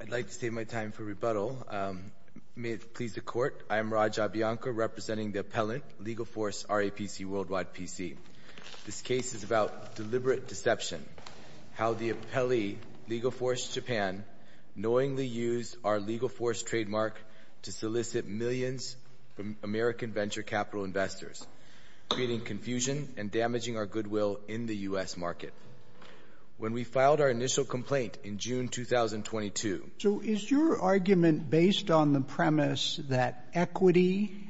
I'd like to save my time for rebuttal. May it please the Court, I am Raj Abhiyanka, representing the appellant, LegalForce RAPC Worldwide, PC. This case is about deliberate deception, how the appellee, LegalForce Japan, knowingly used our LegalForce trademark to solicit millions from American venture capital investors, creating confusion and damaging our goodwill in the U.S. market. When we filed our initial complaint in June 2022... So is your argument based on the premise that equity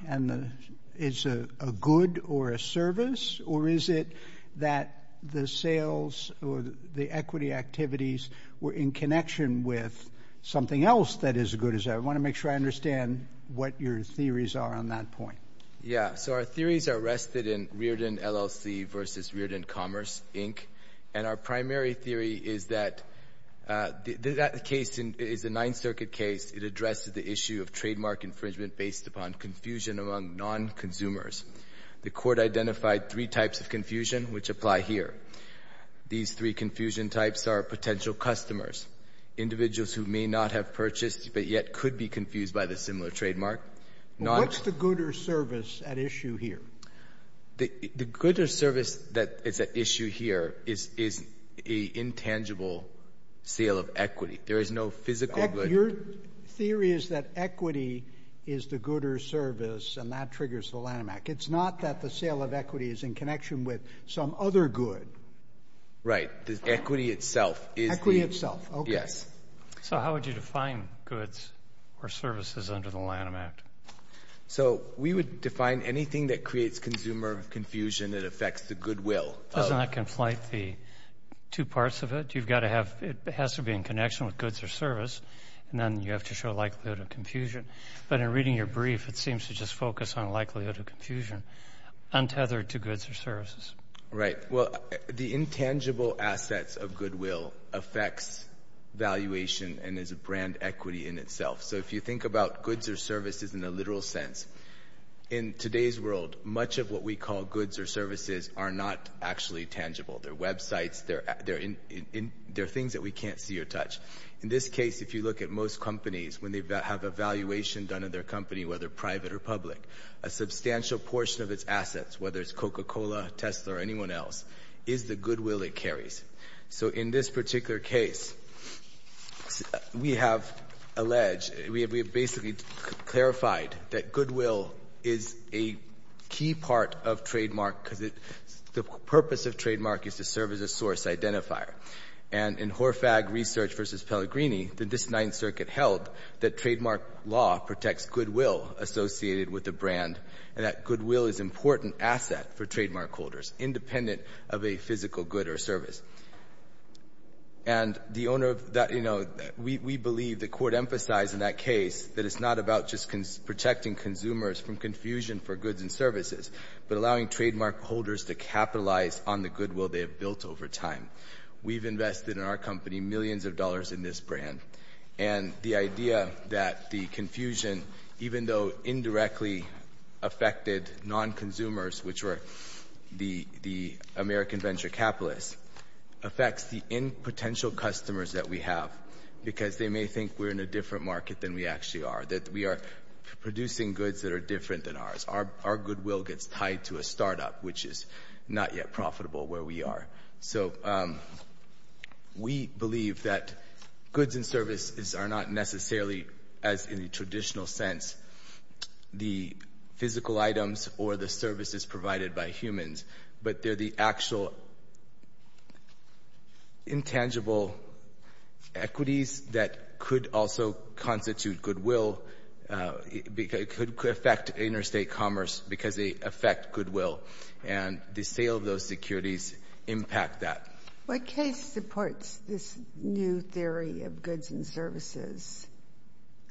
is a good or a service, or is it that the sales or the equity activities were in connection with something else that is as good as that? I want to make sure I understand what your theories are on that point. Yeah, so our theories are rested in Riordan LLC v. Riordan Commerce, Inc., and our primary theory is that that case is a Ninth Circuit case. It addresses the issue of trademark infringement based upon confusion among non-consumers. The Court identified three types of confusion which apply here. These three confusion types are potential customers, individuals who may not have purchased but yet could be confused by the similar trademark. What's the good or service at issue here? The good or service that is at issue here is an intangible sale of equity. There is no physical good. Your theory is that equity is the good or service, and that triggers the Lanham Act. It's not that the sale of equity is in connection with some other good. Right. The equity itself is the... Equity itself. Okay. So how would you define goods or services under the Lanham Act? So we would define anything that creates consumer confusion that affects the goodwill. Doesn't that conflate the two parts of it? You've got to have it has to be in connection with goods or service, and then you have to show likelihood of confusion. But in reading your brief, it seems to just focus on likelihood of confusion, untethered to goods or services. Right. Well, the intangible assets of goodwill affects valuation and is a brand equity in itself. So if you think about goods or services in a literal sense, in today's world, much of what we call goods or services are not actually tangible. They're websites. They're things that we can't see or touch. In this case, if you look at most companies, when they have a valuation done in their company, whether private or public, a substantial portion of its assets, whether it's Coca-Cola, Tesla, or anyone else, is the goodwill it carries. So in this particular case, we have alleged, we have basically clarified that goodwill is a key part of trademark because the purpose of trademark is to serve as a source identifier. And in Horfag Research v. Pellegrini, this Ninth Circuit held that trademark law protects goodwill associated with a brand and that goodwill is an important asset for trademark holders, independent of a physical good or service. And the owner of that, you know, we believe, the Court emphasized in that case, that it's not about just protecting consumers from confusion for goods and services, but allowing trademark holders to capitalize on the goodwill they have built over time. We've invested in our company millions of dollars in this brand. And the idea that the confusion, even though indirectly affected non-consumers, which were the American venture capitalists, affects the end potential customers that we have because they may think we're in a different market than we actually are, that we are producing goods that are different than ours. Our goodwill gets tied to a startup, which is not yet profitable where we are. So we believe that goods and services are not necessarily, as in the traditional sense, the physical items or the services provided by humans, but they're the actual intangible equities that could also constitute goodwill. It could affect interstate commerce because they affect goodwill. And the sale of those securities impact that. What case supports this new theory of goods and services?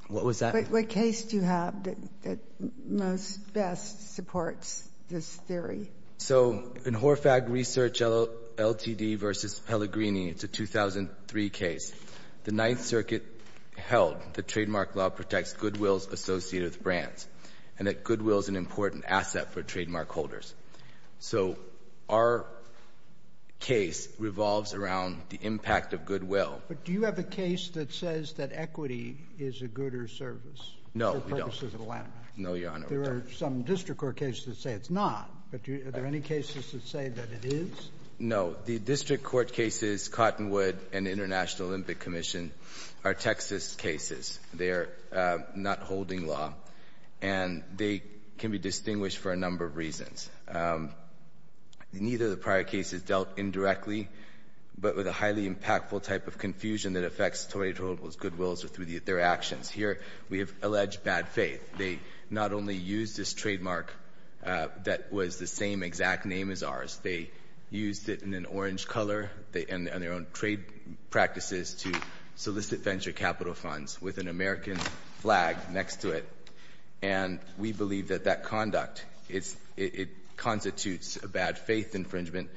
What was that? What case do you have that most best supports this theory? So in Horfag Research Ltd. v. Pellegrini, it's a 2003 case. The Ninth Circuit held that trademark law protects goodwill associated with brands and that goodwill is an important asset for trademark holders. So our case revolves around the impact of goodwill. But do you have a case that says that equity is a good or service? No, we don't. For the purposes of the landmark. No, Your Honor. There are some district court cases that say it's not. But are there any cases that say that it is? No. The district court cases, Cottonwood and International Olympic Commission, are Texas cases. They are not holding law. And they can be distinguished for a number of reasons. Neither of the prior cases dealt indirectly, but with a highly impactful type of confusion that affects Toyota Total's goodwills or through their actions. Here we have alleged bad faith. They not only used this trademark that was the same exact name as ours, they used it in an orange color and their own trade practices to solicit venture capital funds with an American flag next to it. And we believe that that conduct, it constitutes a bad faith infringement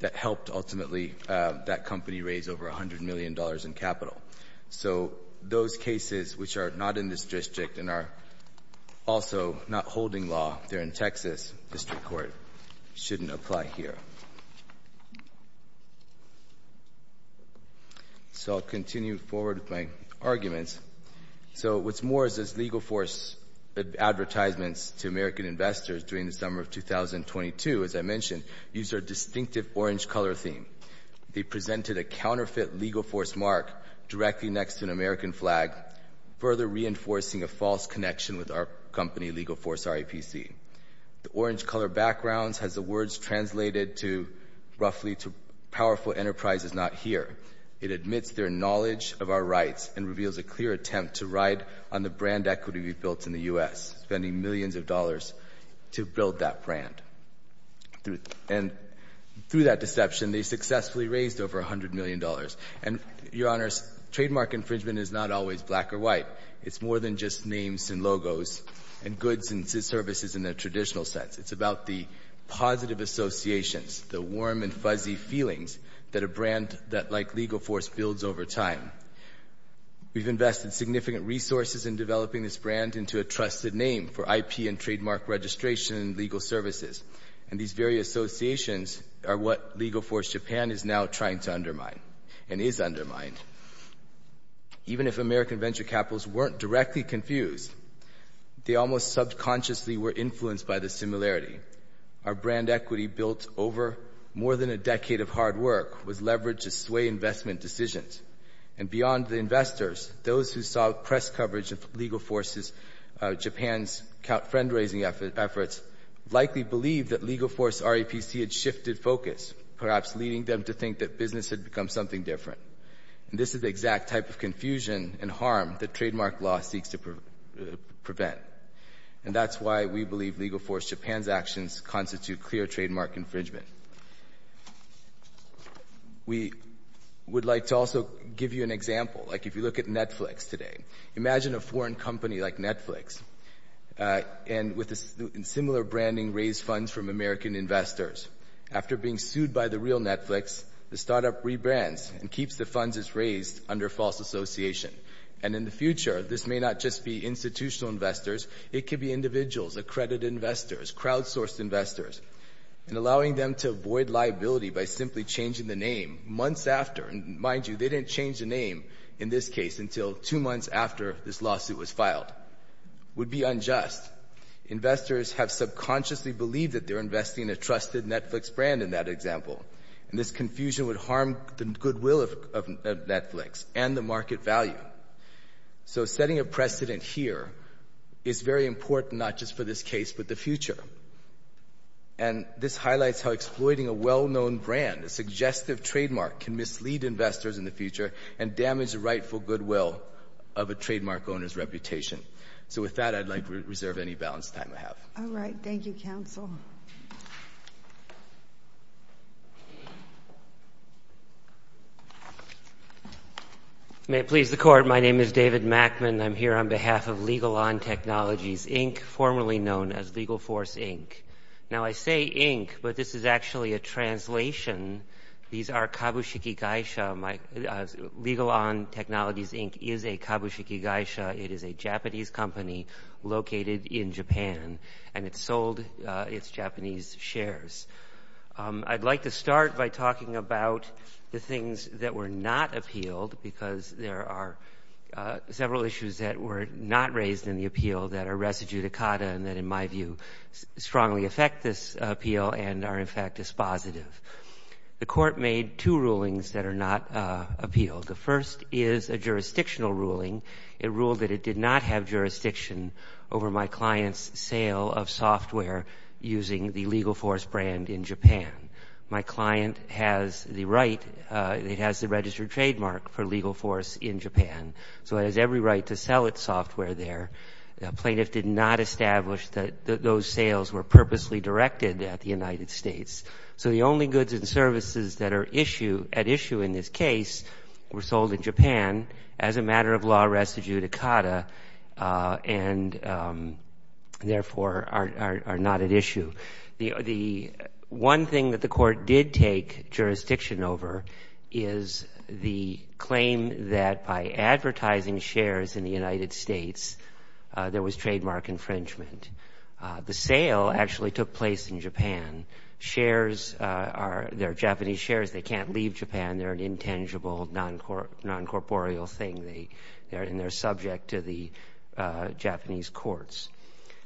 that helped ultimately that company raise over $100 million in capital. So those cases which are not in this district and are also not holding law, they're in Texas district court, shouldn't apply here. Thank you. So I'll continue forward with my arguments. So what's more is this LegalForce advertisements to American investors during the summer of 2022, as I mentioned, used our distinctive orange color theme. They presented a counterfeit LegalForce mark directly next to an American flag, further reinforcing a false connection with our company LegalForce RAPC. The orange color backgrounds has the words translated roughly to powerful enterprises not here. It admits their knowledge of our rights and reveals a clear attempt to ride on the brand equity we've built in the U.S., spending millions of dollars to build that brand. And through that deception, they successfully raised over $100 million. And, Your Honors, trademark infringement is not always black or white. It's more than just names and logos and goods and services in their traditional sense. It's about the positive associations, the warm and fuzzy feelings that a brand that like LegalForce builds over time. We've invested significant resources in developing this brand into a trusted name for IP and trademark registration and legal services. And these very associations are what LegalForce Japan is now trying to undermine and is undermined. Even if American venture capitals weren't directly confused, they almost subconsciously were influenced by the similarity. Our brand equity built over more than a decade of hard work was leveraged to sway investment decisions. And beyond the investors, those who saw press coverage of LegalForce Japan's fundraising efforts likely believed that LegalForce RAPC had shifted focus, perhaps leading them to think that business had become something different. And this is the exact type of confusion and harm that trademark law seeks to prevent. And that's why we believe LegalForce Japan's actions constitute clear trademark infringement. We would like to also give you an example. Like, if you look at Netflix today, imagine a foreign company like Netflix and with a similar branding raise funds from American investors. After being sued by the real Netflix, the startup rebrands and keeps the funds it's raised under false association. And in the future, this may not just be institutional investors, it could be individuals, accredited investors, crowdsourced investors. And allowing them to avoid liability by simply changing the name months after, and mind you, they didn't change the name in this case until two months after this lawsuit was filed, would be unjust. Investors have subconsciously believed that they're investing in a trusted Netflix brand in that example. And this confusion would harm the goodwill of Netflix and the market value. So setting a precedent here is very important, not just for this case, but the future. And this highlights how exploiting a well-known brand, a suggestive trademark, can mislead investors in the future and damage the rightful goodwill of a trademark owner's reputation. So with that, I'd like to reserve any balance time I have. All right. Thank you, counsel. May it please the court, my name is David Mackman. I'm here on behalf of Legal On Technologies Inc., formerly known as Legal Force Inc. Now I say Inc., but this is actually a translation. These are Kabushiki Geisha. Legal On Technologies Inc. is a Kabushiki Geisha. It is a Japanese company located in Japan, and it sold its Japanese shares. I'd like to start by talking about the things that were not appealed, because there are several issues that were not raised in the appeal that are res judicata and that, in my view, strongly affect this appeal and are, in fact, dispositive. The court made two rulings that are not appealed. The first is a jurisdictional ruling. It ruled that it did not have jurisdiction over my client's sale of software using the Legal Force brand in Japan. My client has the right, it has the registered trademark for Legal Force in Japan, so it has every right to sell its software there. The plaintiff did not establish that those sales were purposely directed at the United States. So the only goods and services that are at issue in this case were sold in Japan as a matter of law res judicata and therefore are not at issue. The one thing that the court did take jurisdiction over is the claim that by advertising shares in the United States, there was trademark infringement. The sale actually took place in Japan. Shares are — they're Japanese shares. They can't leave Japan. They're an intangible, non-corporeal thing. They're subject to the Japanese courts.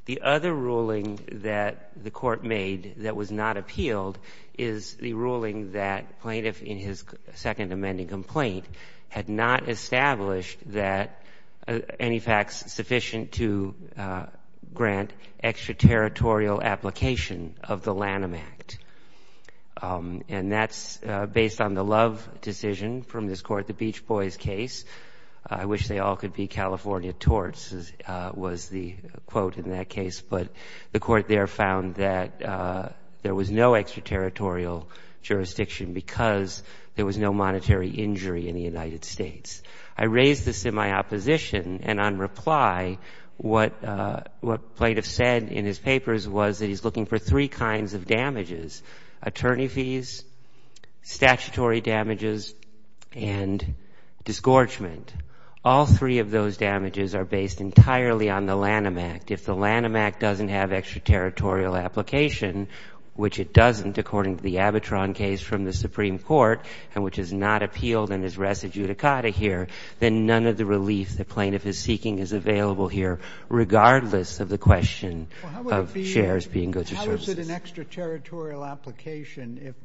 The other ruling that the court made that was not appealed is the ruling that plaintiff, in his second amending complaint, had not established that any facts sufficient to grant extraterritorial application of the Lanham Act. And that's based on the Love decision from this court, the Beach Boys case. I wish they all could be California torts, was the quote in that case. But the court there found that there was no extraterritorial jurisdiction because there was no monetary injury in the United States. I raised this in my opposition. And on reply, what plaintiffs said in his papers was that he's looking for three kinds of damages, attorney fees, statutory damages, and disgorgement. All three of those damages are based entirely on the Lanham Act. If the Lanham Act doesn't have extraterritorial application, which it doesn't, according to the Abitron case from the Supreme Court, and which is not appealed and is res adjudicata here, then none of the relief the plaintiff is seeking is available here regardless of the question of shares being goods or services. How is it an extraterritorial application if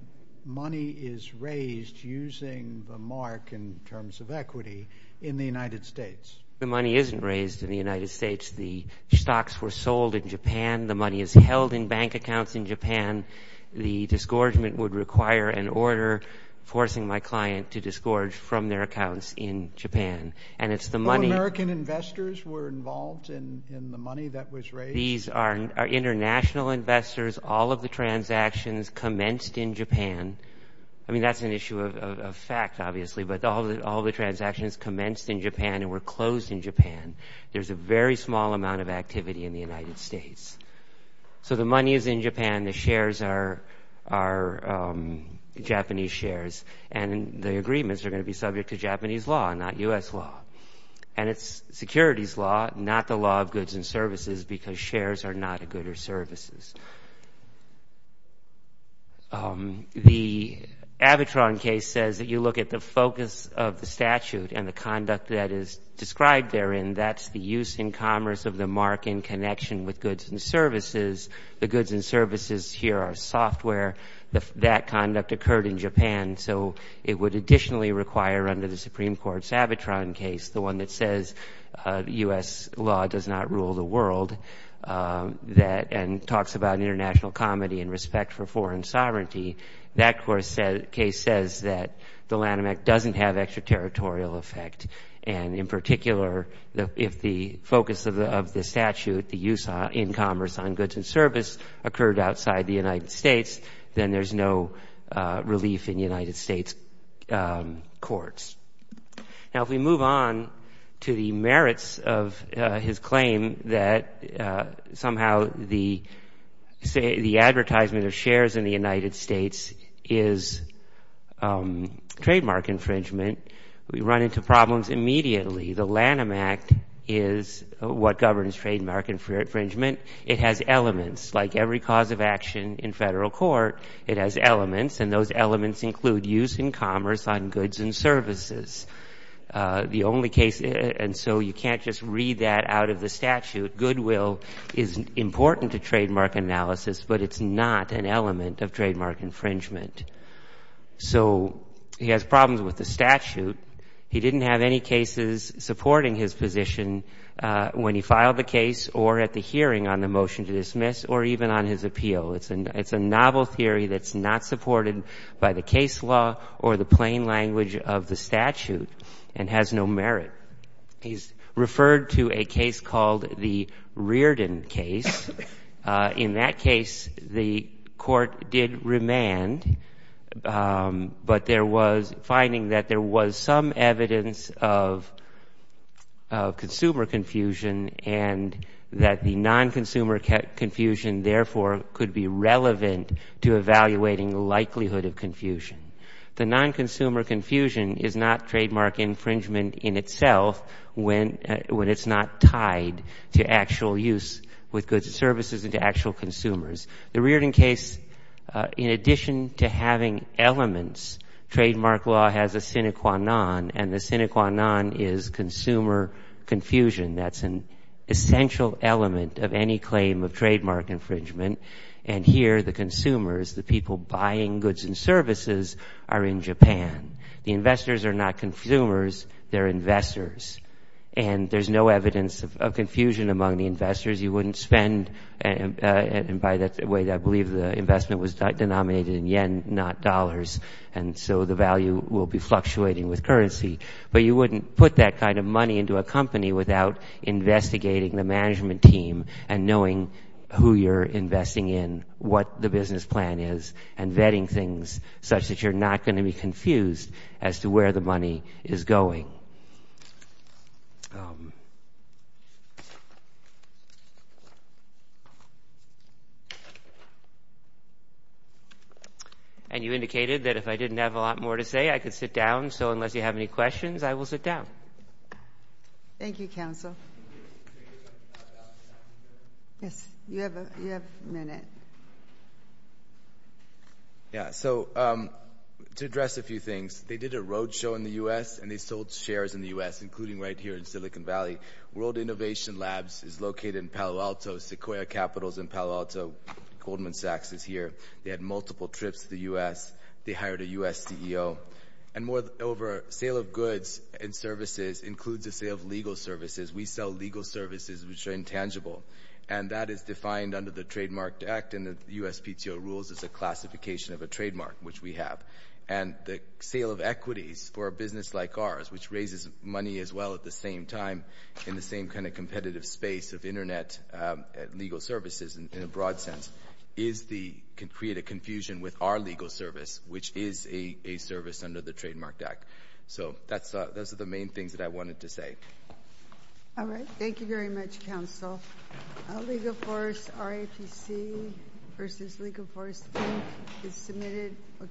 money is raised using the mark in terms of equity in the United States? The money isn't raised in the United States. The stocks were sold in Japan. The money is held in bank accounts in Japan. The disgorgement would require an order forcing my client to disgorge from their accounts in Japan. And it's the money — No American investors were involved in the money that was raised? These are international investors. All of the transactions commenced in Japan. I mean, that's an issue of fact, obviously, but all the transactions commenced in Japan and were closed in Japan. There's a very small amount of activity in the United States. So the money is in Japan, the shares are Japanese shares, and the agreements are going to be subject to Japanese law, not U.S. law. And it's securities law, not the law of goods and services, because shares are not a good or services. The Avatron case says that you look at the focus of the statute and the conduct that is described therein. That's the use in commerce of the mark in connection with goods and services. The goods and services here are software. That conduct occurred in Japan. So it would additionally require under the Supreme Court's Avatron case, the one that says U.S. law does not rule the world, and talks about international comedy and respect for foreign sovereignty. That case says that the Lanham Act doesn't have extraterritorial effect. And in particular, if the focus of the statute, the use in commerce on goods and service, occurred outside the United States, then there's no relief in United States courts. Now, if we move on to the merits of his claim that somehow the advertisement of shares in the United States is trademark infringement, we run into problems immediately. The Lanham Act is what governs trademark infringement. It has elements. Like every cause of action in federal court, it has elements, and those elements include use in commerce on goods and services. The only case, and so you can't just read that out of the statute, goodwill is important to trademark analysis, but it's not an element of trademark infringement. So he has problems with the statute. He didn't have any cases supporting his position when he filed the case or at the hearing on the motion to dismiss, or even on his appeal. It's a novel theory that's not supported by the case law or the plain language of the statute and has no merit. He's referred to a case called the Reardon case. In that case, the court did remand, but there was finding that there was some evidence of consumer confusion and that the non-consumer confusion, therefore, could be relevant to evaluating likelihood of confusion. The non-consumer confusion is not trademark infringement in itself when it's not tied to actual use with goods and services and to actual consumers. The Reardon case, in addition to having elements, trademark law has a sine qua non, and the sine qua non is consumer confusion. That's an essential element of any claim of trademark infringement, and here the consumers, the people buying goods and services, are in Japan. The investors are not consumers. They're investors, and there's no evidence of confusion among the investors. You wouldn't spend and buy that way. I believe the investment was denominated in yen, not dollars, and so the value will be fluctuating with currency, but you wouldn't put that kind of money into a company without investigating the management team and knowing who you're investing in, what the business plan is, and vetting things such that you're not going to be confused as to where the money is going. Thank you. And you indicated that if I didn't have a lot more to say, I could sit down, so unless you have any questions, I will sit down. Thank you, counsel. Yes, you have a minute. Yeah, so to address a few things, they did a road show in the U.S. and they sold shares in the U.S., including right here in Silicon Valley. World Innovation Labs is located in Palo Alto. Sequoia Capital is in Palo Alto. Goldman Sachs is here. They had multiple trips to the U.S. They hired a U.S. CEO. And moreover, sale of goods and services includes the sale of legal services. We sell legal services, which are intangible, and that is defined under the Trademark Act, and the USPTO rules as a classification of a trademark, which we have. And the sale of equities for a business like ours, which raises money as well at the same time in the same kind of competitive space of Internet legal services in a broad sense, can create a confusion with our legal service, which is a service under the Trademark Act. So those are the main things that I wanted to say. All right. Thank you very much, counsel. Legal Force RAPC versus Legal Force Inc. is submitted. We'll take a break.